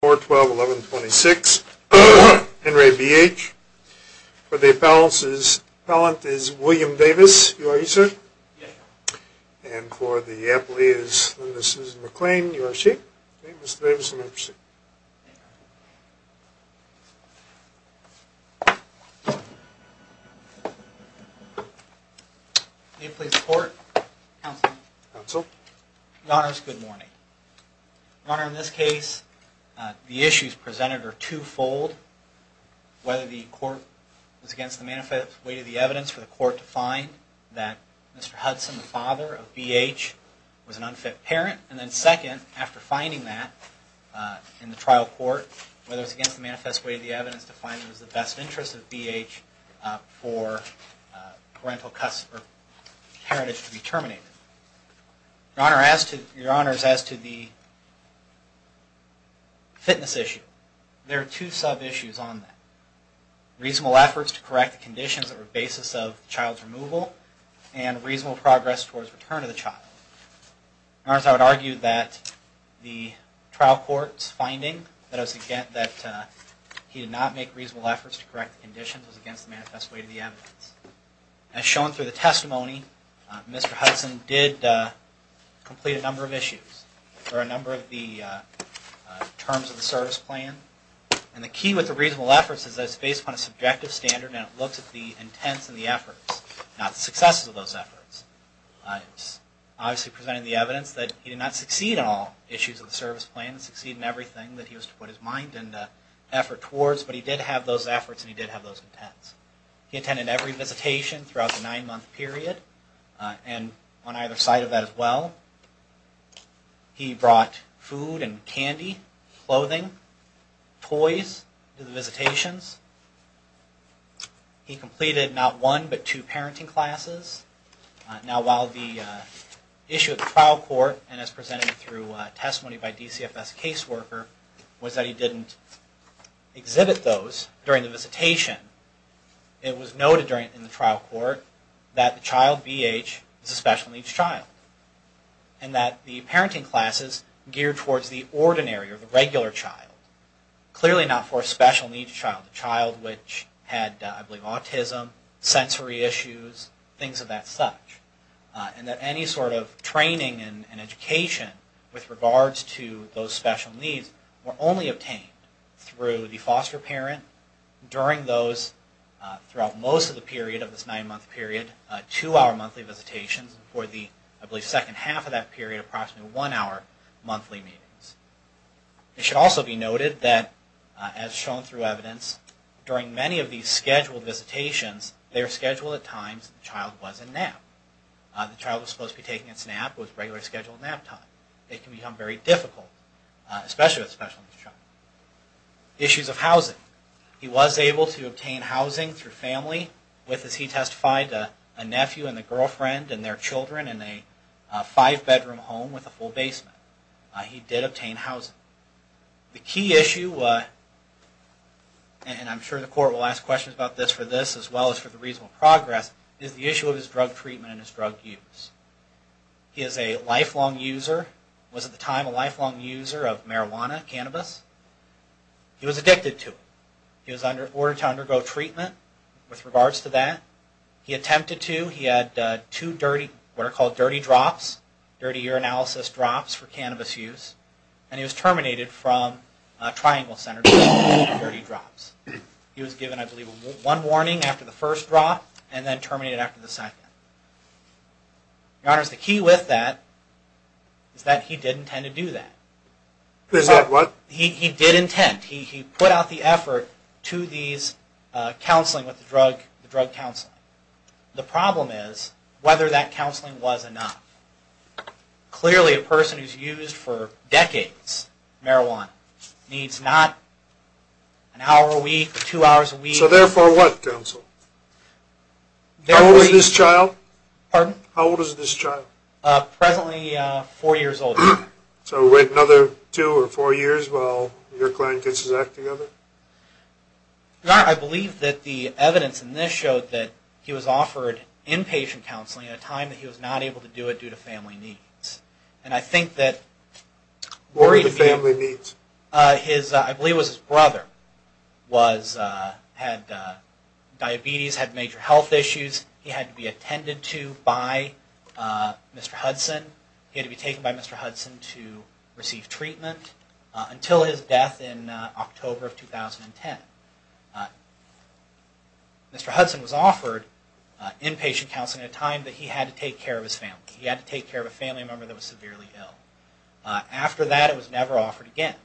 For the appellant is William Davis, you are he, sir? Yes. And for the appellee is Linda Susan McClain, you are she? Yes. Okay, Mr. Davis, you may proceed. Thank you. May I please report? Counsel. Counsel. Your Honor, in this case, it's a good morning. The issues presented are two-fold. Whether the court was against the manifest weight of the evidence for the court to find that Mr. Hudson, the father of B.H., was an unfit parent, and then second, after finding that in the trial court, whether it was against the manifest weight of the evidence to find it was in the best interest of B.H. for parental heritage to be terminated. Your Honor, as to the fitness issue, there are two sub-issues on that. Reasonable efforts to correct the conditions that were the basis of the child's removal, and reasonable progress towards return of the child. Your Honor, I would argue that the trial court's finding that he did not make reasonable efforts to correct the conditions was against the manifest weight of the evidence. As shown through the testimony, Mr. Hudson did complete a number of issues, or a number of the terms of the service plan. And the key with the reasonable efforts is that it's based upon a subjective standard, and it looks at the intents and the efforts, not the successes of those efforts. It's obviously presented in the evidence that he did not succeed in all issues of the service plan, succeed in everything that he was to put his mind and effort towards, but he did have those efforts, and he did have those intents. He attended every visitation throughout the nine-month period, and on either side of that as well. He brought food and candy, clothing, toys to the visitations. He completed not one, but two parenting classes. Now, while the issue at the trial court, and as presented through testimony by DCFS caseworker, was that he didn't exhibit those during the visitation, it was noted in the trial court that the child, VH, is a special needs child, and that the parenting classes geared towards the ordinary, or the regular child. Clearly not for a special needs child, a child which had, I believe, autism, sensory issues, things of that such. And that any sort of training and education with regards to those special needs were only obtained through the foster parent during those, throughout most of the period of this nine-month period, two-hour monthly visitations, for the, I believe, second half of that period, approximately one-hour monthly meetings. It should also be noted that, as shown through evidence, during many of these scheduled visitations, they are scheduled at times the child was in nap. The child was supposed to be taking its nap, but it was a regularly scheduled nap time. It can become very difficult, especially with a special needs child. Issues of housing. He was able to obtain housing through family with, as he testified, a nephew and a girlfriend and their children in a five-bedroom home with a full basement. He did obtain housing. The key issue, and I'm sure the court will ask questions about this for this as well as for the reasonable progress, is the issue of his drug treatment and his drug use. He is a lifelong user, was at the time a lifelong user of marijuana, cannabis. He was addicted to it. He was ordered to undergo treatment with regards to that. He attempted to. He had two dirty, what are called dirty drops, dirty urinalysis drops for cannabis use. And he was terminated from Triangle Center for those dirty drops. He was given, I believe, one warning after the first drop and then terminated after the second. Your Honor, the key with that is that he did intend to do that. Is that what? He did intend. He put out the effort to these counseling with the drug counseling. The problem is whether that counseling was enough. Clearly a person who's used for decades marijuana needs not an hour a week or two hours a week. So therefore what, counsel? How old is this child? Pardon? How old is this child? Presently four years old. So wait another two or four years while your client gets his act together? Your Honor, I believe that the evidence in this showed that he was offered inpatient counseling at a time that he was not able to do it due to family needs. And I think that... What were the family needs? I believe it was his brother had diabetes, had major health issues. He had to be attended to by Mr. Hudson. He had to be taken by Mr. Hudson to receive treatment until his death in October of 2010. Mr. Hudson was offered inpatient counseling at a time that he had to take care of his family. He had to take care of a family member that was severely ill. After that it was never offered again.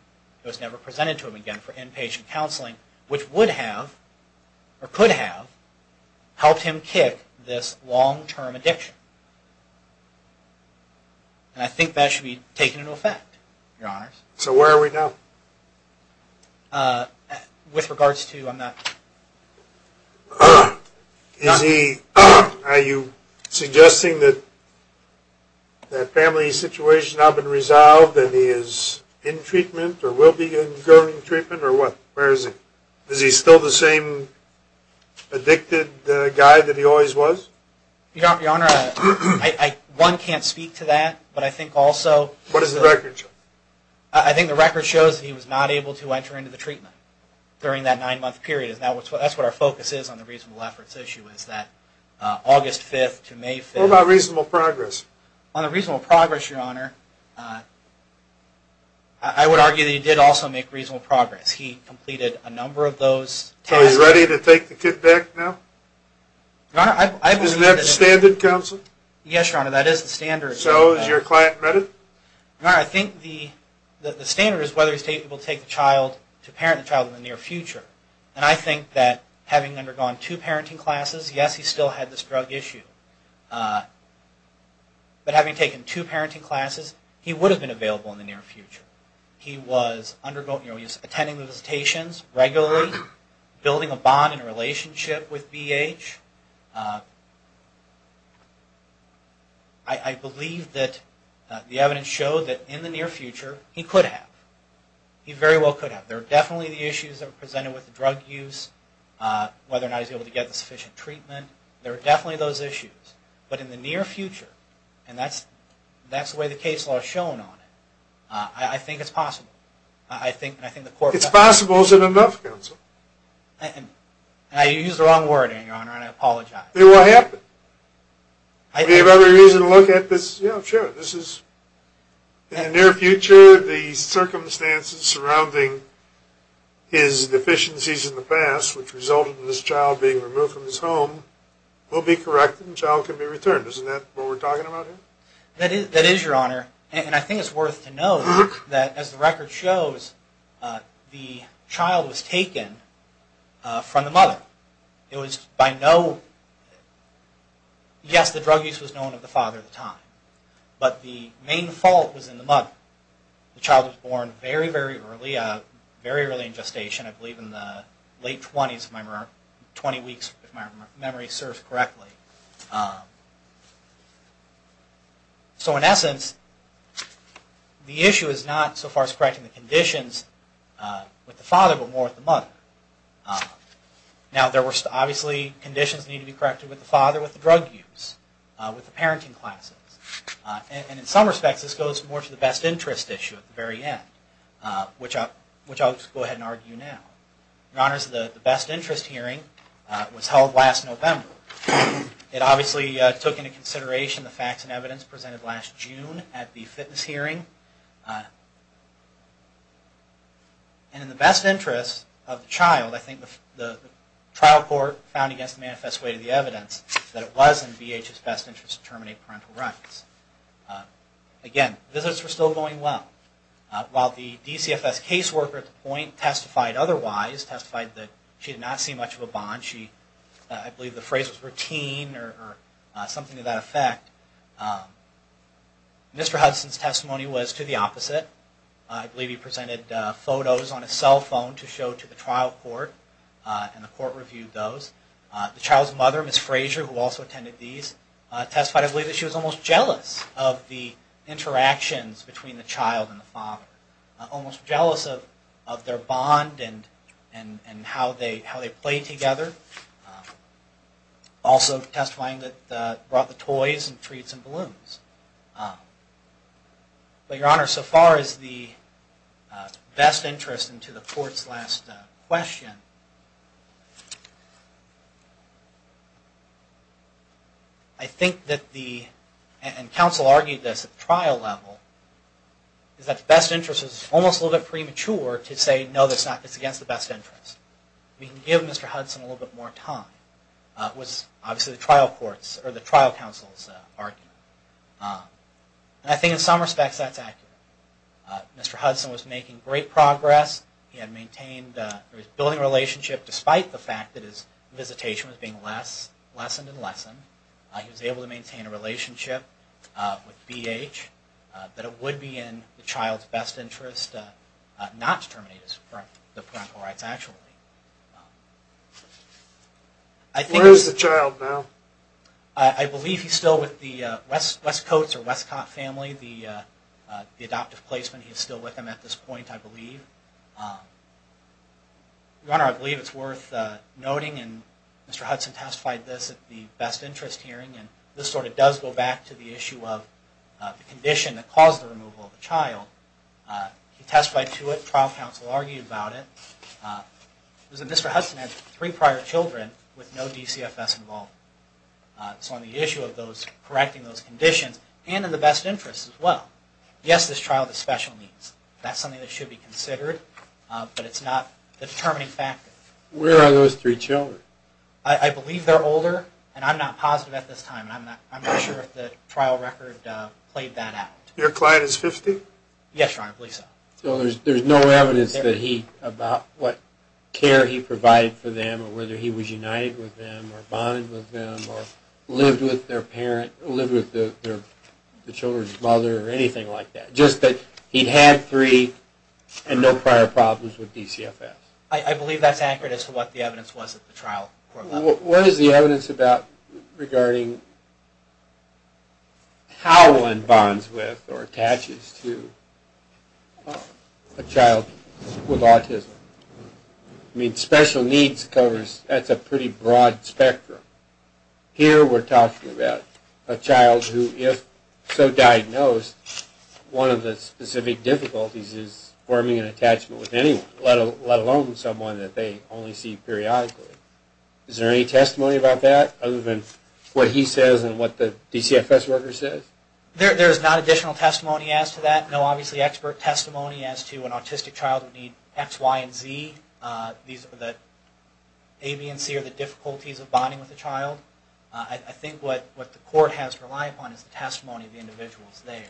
It was never presented to him again for inpatient counseling, which would have or could have helped him kick this long-term addiction. And I think that should be taken into effect, Your Honors. So where are we now? With regards to, I'm not... Is he, are you suggesting that that family situation has now been resolved and he is in treatment or will be undergoing treatment or what? Where is he? Is he still the same addicted guy that he always was? Your Honor, one can't speak to that, but I think also... What does the record show? I think the record shows that he was not able to enter into the treatment during that nine-month period. That's what our focus is on the reasonable efforts issue is that August 5th to May 5th... What about reasonable progress? On the reasonable progress, Your Honor, I would argue that he did also make reasonable progress. He completed a number of those tests... So he's ready to take the kid back now? Your Honor, I believe that... Isn't that the standard, counsel? Yes, Your Honor, that is the standard. So has your client met it? Your Honor, I think the standard is whether he's able to take the child, to parent the child in the near future. And I think that having undergone two parenting classes, yes, he still had this drug issue. But having taken two parenting classes, he would have been available in the near future. He was attending the visitations regularly, building a bond and relationship with BH. I believe that the evidence showed that in the near future, he could have. He very well could have. There are definitely the issues that are presented with drug use, whether or not he's able to get the sufficient treatment. There are definitely those issues. But in the near future, and that's the way the case law has shown on it, I think it's possible. I think the court... You used the wrong word, Your Honor. I apologize. It will happen. We have every reason to look at this. Yeah, sure. In the near future, the circumstances surrounding his deficiencies in the past, which resulted in this child being removed from his home, will be corrected and the child can be returned. Isn't that what we're talking about here? That is, Your Honor. And I think it's worth to note that, as the record shows, the child was taken from the mother. It was by no... Yes, the drug use was known of the father at the time, but the main fault was in the mother. The child was born very, very early, very early in gestation. I believe in the late 20s, if my memory serves correctly. So in essence, the issue is not so far as correcting the conditions with the father, but more with the mother. Now, obviously, conditions need to be corrected with the father, with the drug use, with the parenting classes. And in some respects, this goes more to the best interest issue at the very end, which I'll just go ahead and argue now. Your Honor, the best interest hearing was held last November. It obviously took into consideration the facts and evidence presented last June at the fitness hearing. And in the best interest of the child, I think the trial court found against the manifest way of the evidence that it was in BH's best interest to terminate parental rights. Again, visits were still going well. While the DCFS caseworker at the point testified otherwise, testified that she had not seen much of a bond. I believe the phrase was routine or something to that effect. Mr. Hudson's testimony was to the opposite. I believe he presented photos on his cell phone to show to the trial court, and the court reviewed those. The child's mother, Ms. Frazier, who also attended these, testified, I believe, that she was almost jealous of the interactions between the child and the father. Almost jealous of their bond and how they played together. Also testifying that they brought the toys and treats and balloons. But, Your Honor, so far as the best interest into the court's last question, I think that the, and counsel argued this at the trial level, is that the best interest is almost a little bit premature to say, no, it's against the best interest. We can give Mr. Hudson a little bit more time, was obviously the trial court's, or the trial counsel's argument. And I think in some respects that's accurate. Mr. Hudson was making great progress. He had maintained, he was building a relationship, despite the fact that his visitation was being less, lessened and lessened. He was able to maintain a relationship with BH, that it would be in the child's best interest not to terminate the parental rights, actually. Where is the child now? I believe he's still with the Westcoats or Westcott family. The adoptive placement, he's still with them at this point, I believe. Your Honor, I believe it's worth noting, and Mr. Hudson testified this at the best interest hearing, and this sort of does go back to the issue of the condition that caused the removal of the child. He testified to it, trial counsel argued about it. It was that Mr. Hudson had three prior children with no DCFS involved. So on the issue of correcting those conditions, and in the best interest as well. Yes, this trial has special needs. That's something that should be considered, but it's not the determining factor. Where are those three children? I believe they're older, and I'm not positive at this time. I'm not sure if the trial record played that out. Your client is 50? Yes, Your Honor, I believe so. So there's no evidence that he, about what care he provided for them, or whether he was united with them, or bonded with them, or lived with their parent, lived with the children's mother, or anything like that. Just that he had three, and no prior problems with DCFS. I believe that's accurate as to what the evidence was at the trial. What is the evidence regarding how one bonds with or attaches to a child with autism? I mean, special needs covers, that's a pretty broad spectrum. Here we're talking about a child who, if so diagnosed, one of the specific difficulties is forming an attachment with anyone, let alone someone that they only see periodically. Is there any testimony about that, other than what he says, and what the DCFS worker says? There is not additional testimony as to that. No, obviously, expert testimony as to an autistic child would need X, Y, and Z. These are the A, B, and C are the difficulties of bonding with a child. I think what the court has to rely upon is the testimony of the individuals there.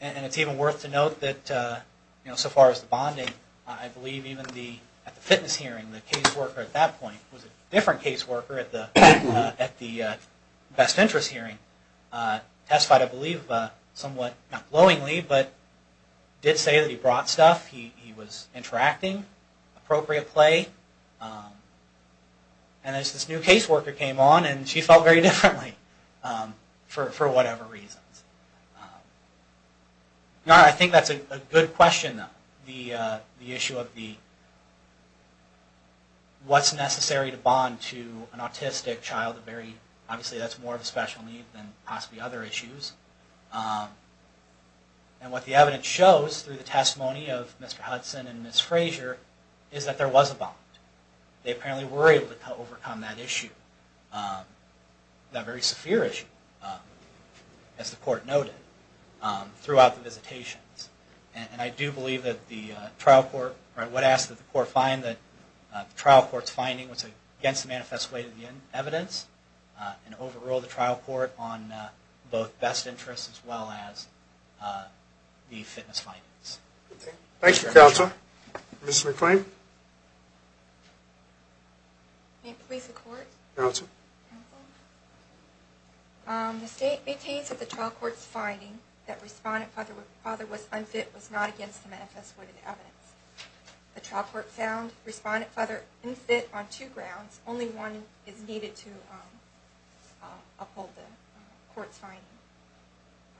And it's even worth to note that, so far as the bonding, I believe even at the fitness hearing, the caseworker at that point, who was a different caseworker at the best interest hearing, testified, I believe, somewhat, not glowingly, but did say that he brought stuff, he was interacting, appropriate play. And as this new caseworker came on, and she felt very differently, for whatever reasons. I think that's a good question, though. The issue of what's necessary to bond to an autistic child, obviously that's more of a special need than possibly other issues. And what the evidence shows, through the testimony of Mr. Hudson and Ms. Frazier, is that there was a bond. They apparently were able to overcome that issue. That very severe issue, as the court noted, throughout the visitations. And I do believe that the trial court, or I would ask that the court find that the trial court's finding was against the manifest weight of the evidence, and overrule the trial court on both best interests, as well as the fitness findings. Thank you, counsel. Ms. McClain? May it please the court? Counsel? The state maintains that the trial court's finding that Respondent Father was unfit was not against the manifest weight of the evidence. The trial court found Respondent Father unfit on two grounds, only one is needed to uphold the court's finding.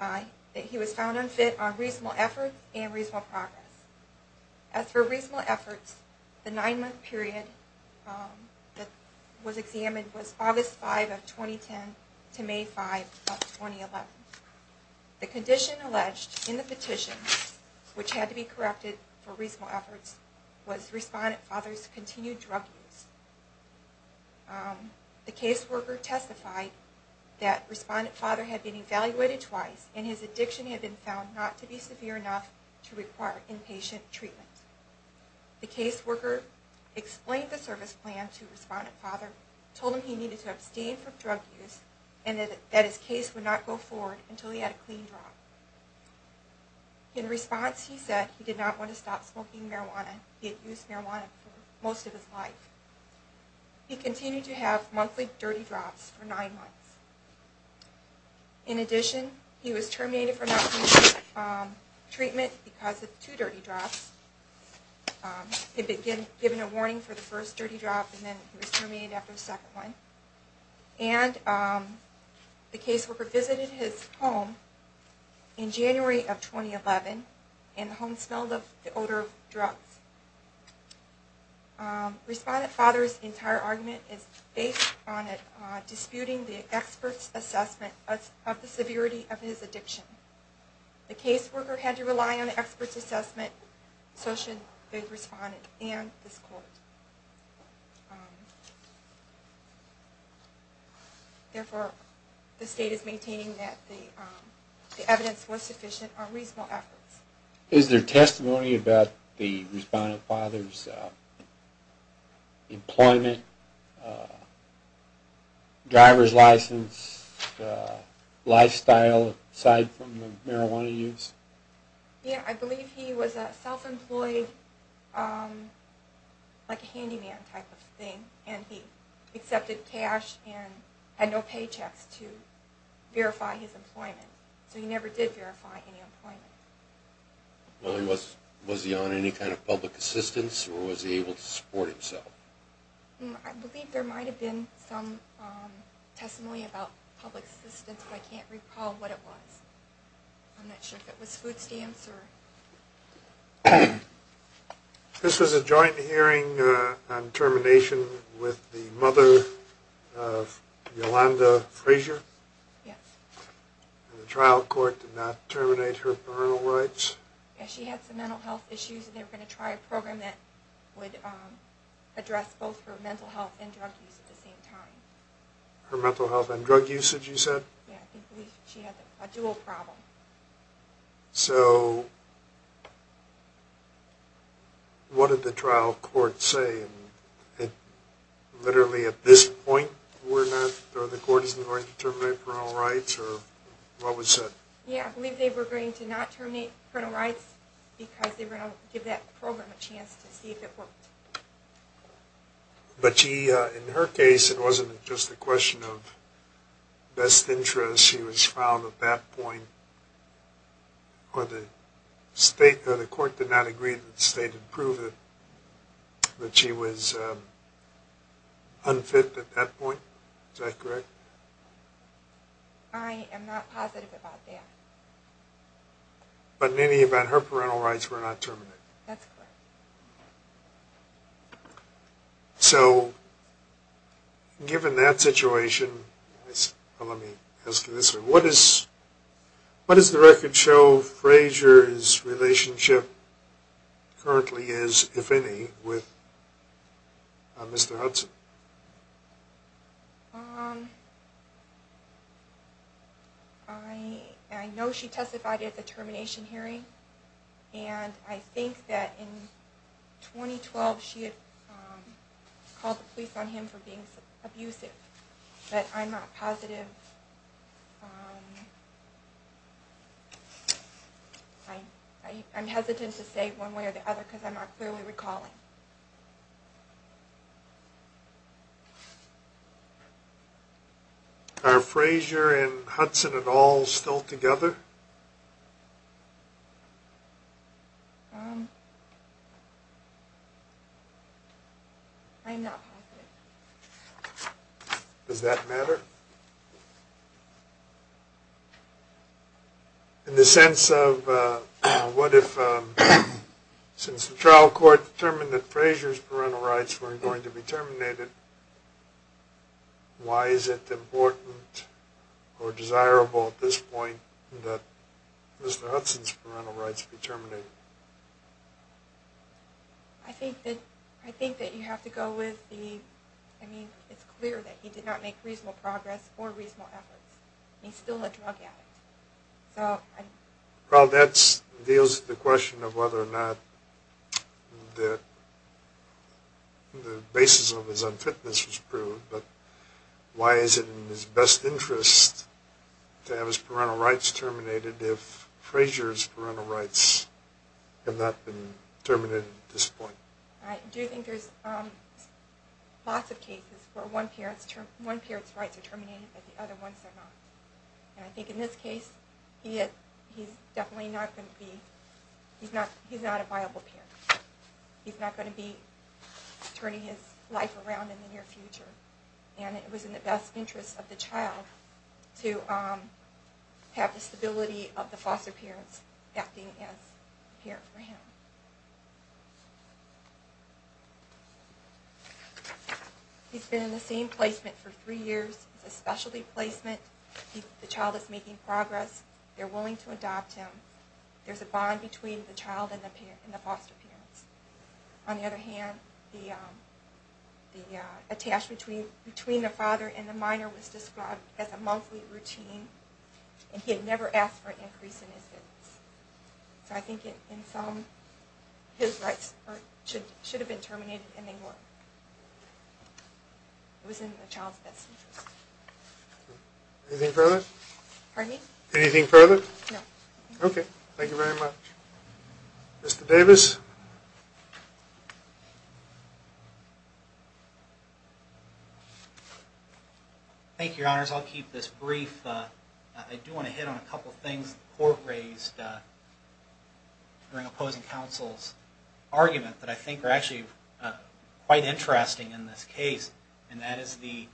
I, that he was found unfit on reasonable effort and reasonable progress. As for reasonable efforts, the nine-month period that was examined was August 5 of 2010 to May 5 of 2011. The condition alleged in the petition, which had to be corrected for reasonable efforts, was Respondent Father's continued drug use. The caseworker testified that Respondent Father had been evaluated twice, and his addiction had been found not to be severe enough to require inpatient treatment. The caseworker explained the service plan to Respondent Father, told him he needed to abstain from drug use, and that his case would not go forward until he had a clean drop. In response, he said he did not want to stop smoking marijuana. He had used marijuana for most of his life. He continued to have monthly dirty drops for nine months. In addition, he was terminated from outpatient treatment because of two dirty drops. He had been given a warning for the first dirty drop, and then he was terminated after the second one. And the caseworker visited his home in January of 2011, Respondent Father's entire argument is based on disputing the expert's assessment of the severity of his addiction. The caseworker had to rely on the expert's assessment, so should the Respondent and this Court. Therefore, the State is maintaining that the evidence was sufficient on reasonable efforts. Is there testimony about the Respondent Father's employment, driver's license, lifestyle aside from the marijuana use? Yeah, I believe he was self-employed, like a handyman type of thing, and he accepted cash and had no paychecks to verify his employment. So he never did verify any employment. Was he on any kind of public assistance, or was he able to support himself? I believe there might have been some testimony about public assistance, but I can't recall what it was. I'm not sure if it was food stamps. This was a joint hearing on termination with the mother of Yolanda Frazier? Yes. And the trial court did not terminate her parental rights? Yeah, she had some mental health issues, and they were going to try a program that would address both her mental health and drug use at the same time. Her mental health and drug usage, you said? Yeah, she had a dual problem. So what did the trial court say? Literally at this point, the court isn't going to terminate parental rights? Or what was that? Yeah, I believe they were going to not terminate parental rights because they were going to give that program a chance to see if it worked. But in her case, it wasn't just a question of best interest. She was filed at that point, or the court did not agree that the state had proved that she was unfit at that point. Is that correct? I am not positive about that. But in any event, her parental rights were not terminated? That's correct. So given that situation, let me ask you this one. What does the record show Frazier's relationship currently is, if any, with Mr. Hudson? I know she testified at the termination hearing, and I think that in 2012 she had called the police on him for being abusive. But I'm not positive. I'm hesitant to say one way or the other because I'm not clearly recalling. Are Frazier and Hudson at all still together? I'm not positive. Does that matter? In the sense of what if, since the trial court determined that Frazier's parental rights weren't going to be terminated, why is it important or desirable at this point that Mr. Hudson's parental rights be terminated? I think that you have to go with the, I mean, it's clear that he did not make reasonable progress or reasonable efforts. He's still a drug addict. Well, that deals with the question of whether or not the basis of his unfitness was proved. But why is it in his best interest to have his parental rights terminated if Frazier's parental rights have not been terminated at this point? I do think there's lots of cases where one parent's rights are terminated but the other ones are not. And I think in this case he's definitely not going to be, he's not a viable parent. He's not going to be turning his life around in the near future. And it was in the best interest of the child to have the stability of the foster parents acting as a parent for him. He's been in the same placement for three years. It's a specialty placement. The child is making progress. They're willing to adopt him. There's a bond between the child and the foster parents. On the other hand, the attachment between the father and the minor was described as a monthly routine, and he had never asked for an increase in his fitness. So I think in sum, his rights should have been terminated and they were. It was in the child's best interest. Anything further? Pardon me? Anything further? No. Okay. Thank you very much. Mr. Davis? Thank you, Your Honors. I'll keep this brief. I do want to hit on a couple of things the Court raised during opposing counsel's argument that I think are actually quite interesting in this case, and that is the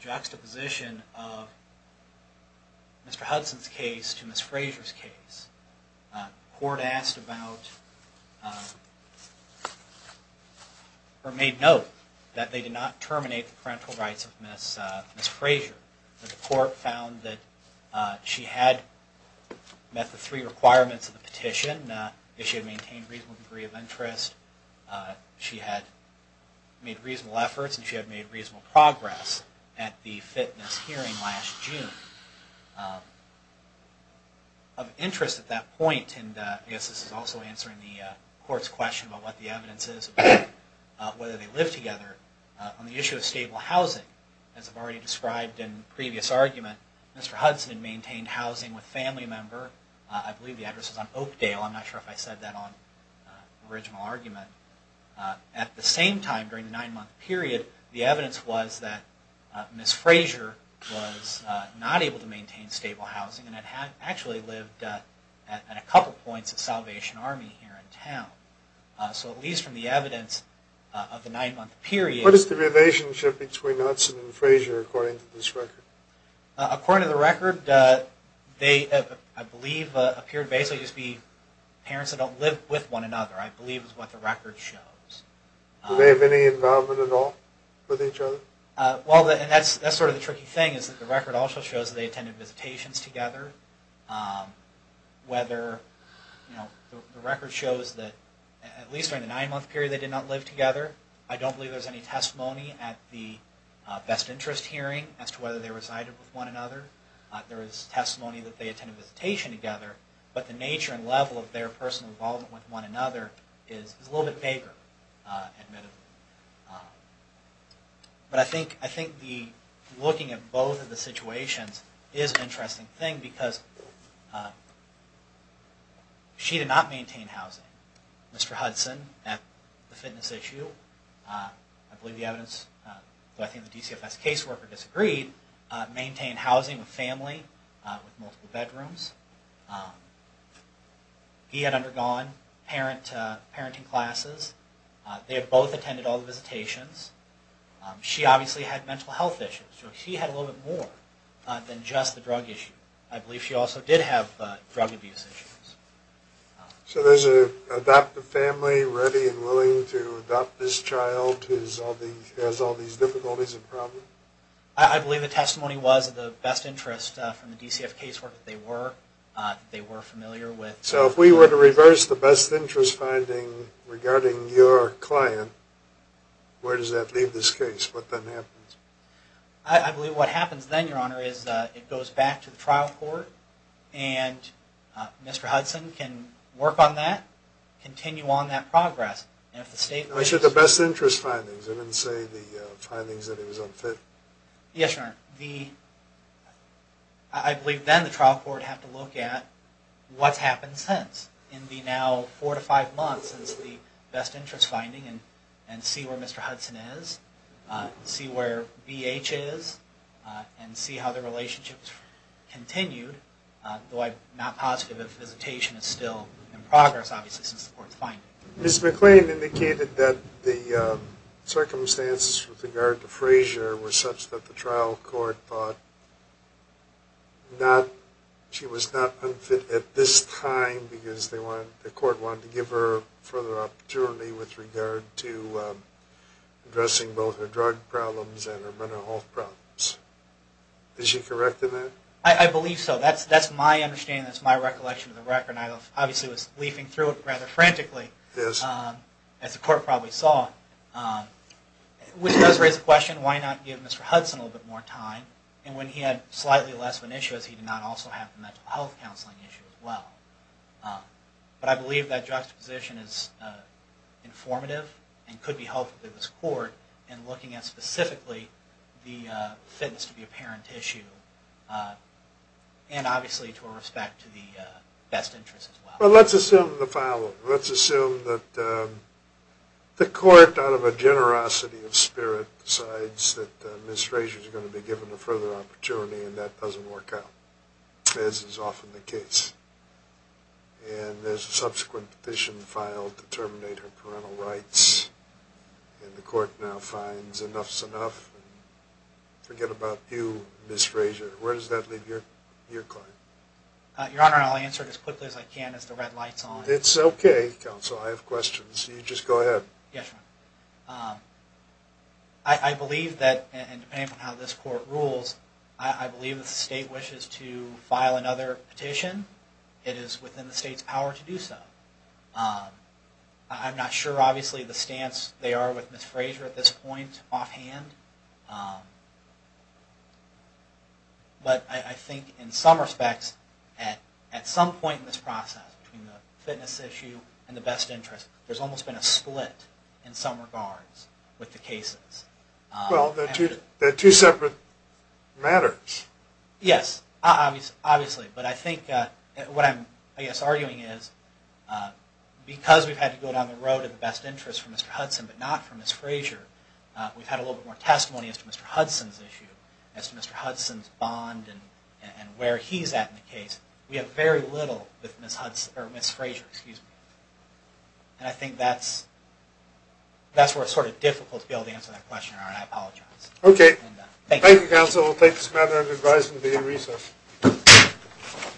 juxtaposition of Mr. Hudson's case to Ms. Frazier's case. The Court asked about or made note that they did not terminate the parental rights of Ms. Frazier. The Court found that she had met the three requirements of the petition, that she had maintained a reasonable degree of interest, she had made reasonable efforts, and she had made reasonable progress at the fitness hearing last June. Of interest at that point, and I guess this is also answering the Court's question about what the evidence is about whether they lived together, on the issue of stable housing, as I've already described in the previous argument, Mr. Hudson had maintained housing with a family member. I believe the address is on Oakdale. I'm not sure if I said that on the original argument. At the same time, during the nine-month period, the evidence was that Ms. Frazier was not able to maintain stable housing and had actually lived at a couple points at Salvation Army here in town. So at least from the evidence of the nine-month period... What is the relationship between Hudson and Frazier according to this record? According to the record, they, I believe, appeared to basically just be parents that don't live with one another, I believe is what the record shows. Do they have any involvement at all with each other? Well, and that's sort of the tricky thing, is that the record also shows that they attended visitations together. Whether... The record shows that at least during the nine-month period, they did not live together. I don't believe there's any testimony at the best interest hearing as to whether they resided with one another. There is testimony that they attended visitation together, but the nature and level of their personal involvement with one another is a little bit vaguer, admittedly. But I think the looking at both of the situations is an interesting thing because she did not maintain housing. Mr. Hudson, at the fitness issue, I believe the evidence, but I think the DCFS caseworker disagreed, maintained housing with family with multiple bedrooms. He had undergone parenting classes. They had both attended all the visitations. She obviously had mental health issues, so she had a little bit more than just the drug issue. I believe she also did have drug abuse issues. So there's an adoptive family ready and willing to adopt this child who has all these difficulties and problems? I believe the testimony was at the best interest from the DCFS caseworker that they were familiar with. So if we were to reverse the best interest finding regarding your client, where does that leave this case? What then happens? I believe what happens then, Your Honor, is it goes back to the trial court, and Mr. Hudson can work on that, continue on that progress. I said the best interest findings. I didn't say the findings that he was unfit. Yes, Your Honor. I believe then the trial court would have to look at what's happened since. In the now four to five months is the best interest finding and see where Mr. Hudson is, see where BH is, and see how the relationship has continued. Though I'm not positive if visitation is still in progress, obviously, since the court's finding. Ms. McClain indicated that the circumstances with regard to Frazier were such that the trial court thought she was not unfit at this time because the court wanted to give her further opportunity with regard to addressing both her drug problems and her mental health problems. Is she correct in that? I believe so. That's my understanding. That's my recollection of the record. I obviously was leafing through it rather frantically, as the court probably saw, which does raise the question, why not give Mr. Hudson a little bit more time? And when he had slightly less of an issue, as he did not also have a mental health counseling issue as well. But I believe that juxtaposition is informative and could be helpful to this court in looking at specifically the fitness to be a parent issue and obviously to a respect to the best interest as well. Well, let's assume the following. Let's assume that the court, out of a generosity of spirit, decides that Ms. Frazier is going to be given a further opportunity and that doesn't work out, as is often the case. And there's a subsequent petition filed to terminate her parental rights, and the court now finds enough's enough. Forget about you, Ms. Frazier. Where does that leave your client? Your Honor, I'll answer it as quickly as I can as the red light's on. It's okay, counsel. I have questions. You just go ahead. Yes, Your Honor. I believe that, and depending on how this court rules, I believe if the state wishes to file another petition, it is within the state's power to do so. I'm not sure, obviously, the stance they are with Ms. Frazier at this point, offhand, but I think in some respects, at some point in this process, between the fitness issue and the best interest, there's almost been a split in some regards with the cases. Well, they're two separate matters. Yes, obviously. But I think what I'm, I guess, arguing is, because we've had to go down the road of the best interest for Mr. Hudson but not for Ms. Frazier, we've had a little bit more testimony as to Mr. Hudson's issue, but we have very little with Ms. Frazier. And I think that's where it's sort of difficult to be able to answer that question, Your Honor, and I apologize. Okay. Thank you, counsel. We'll take this matter under advisement at the end of recess.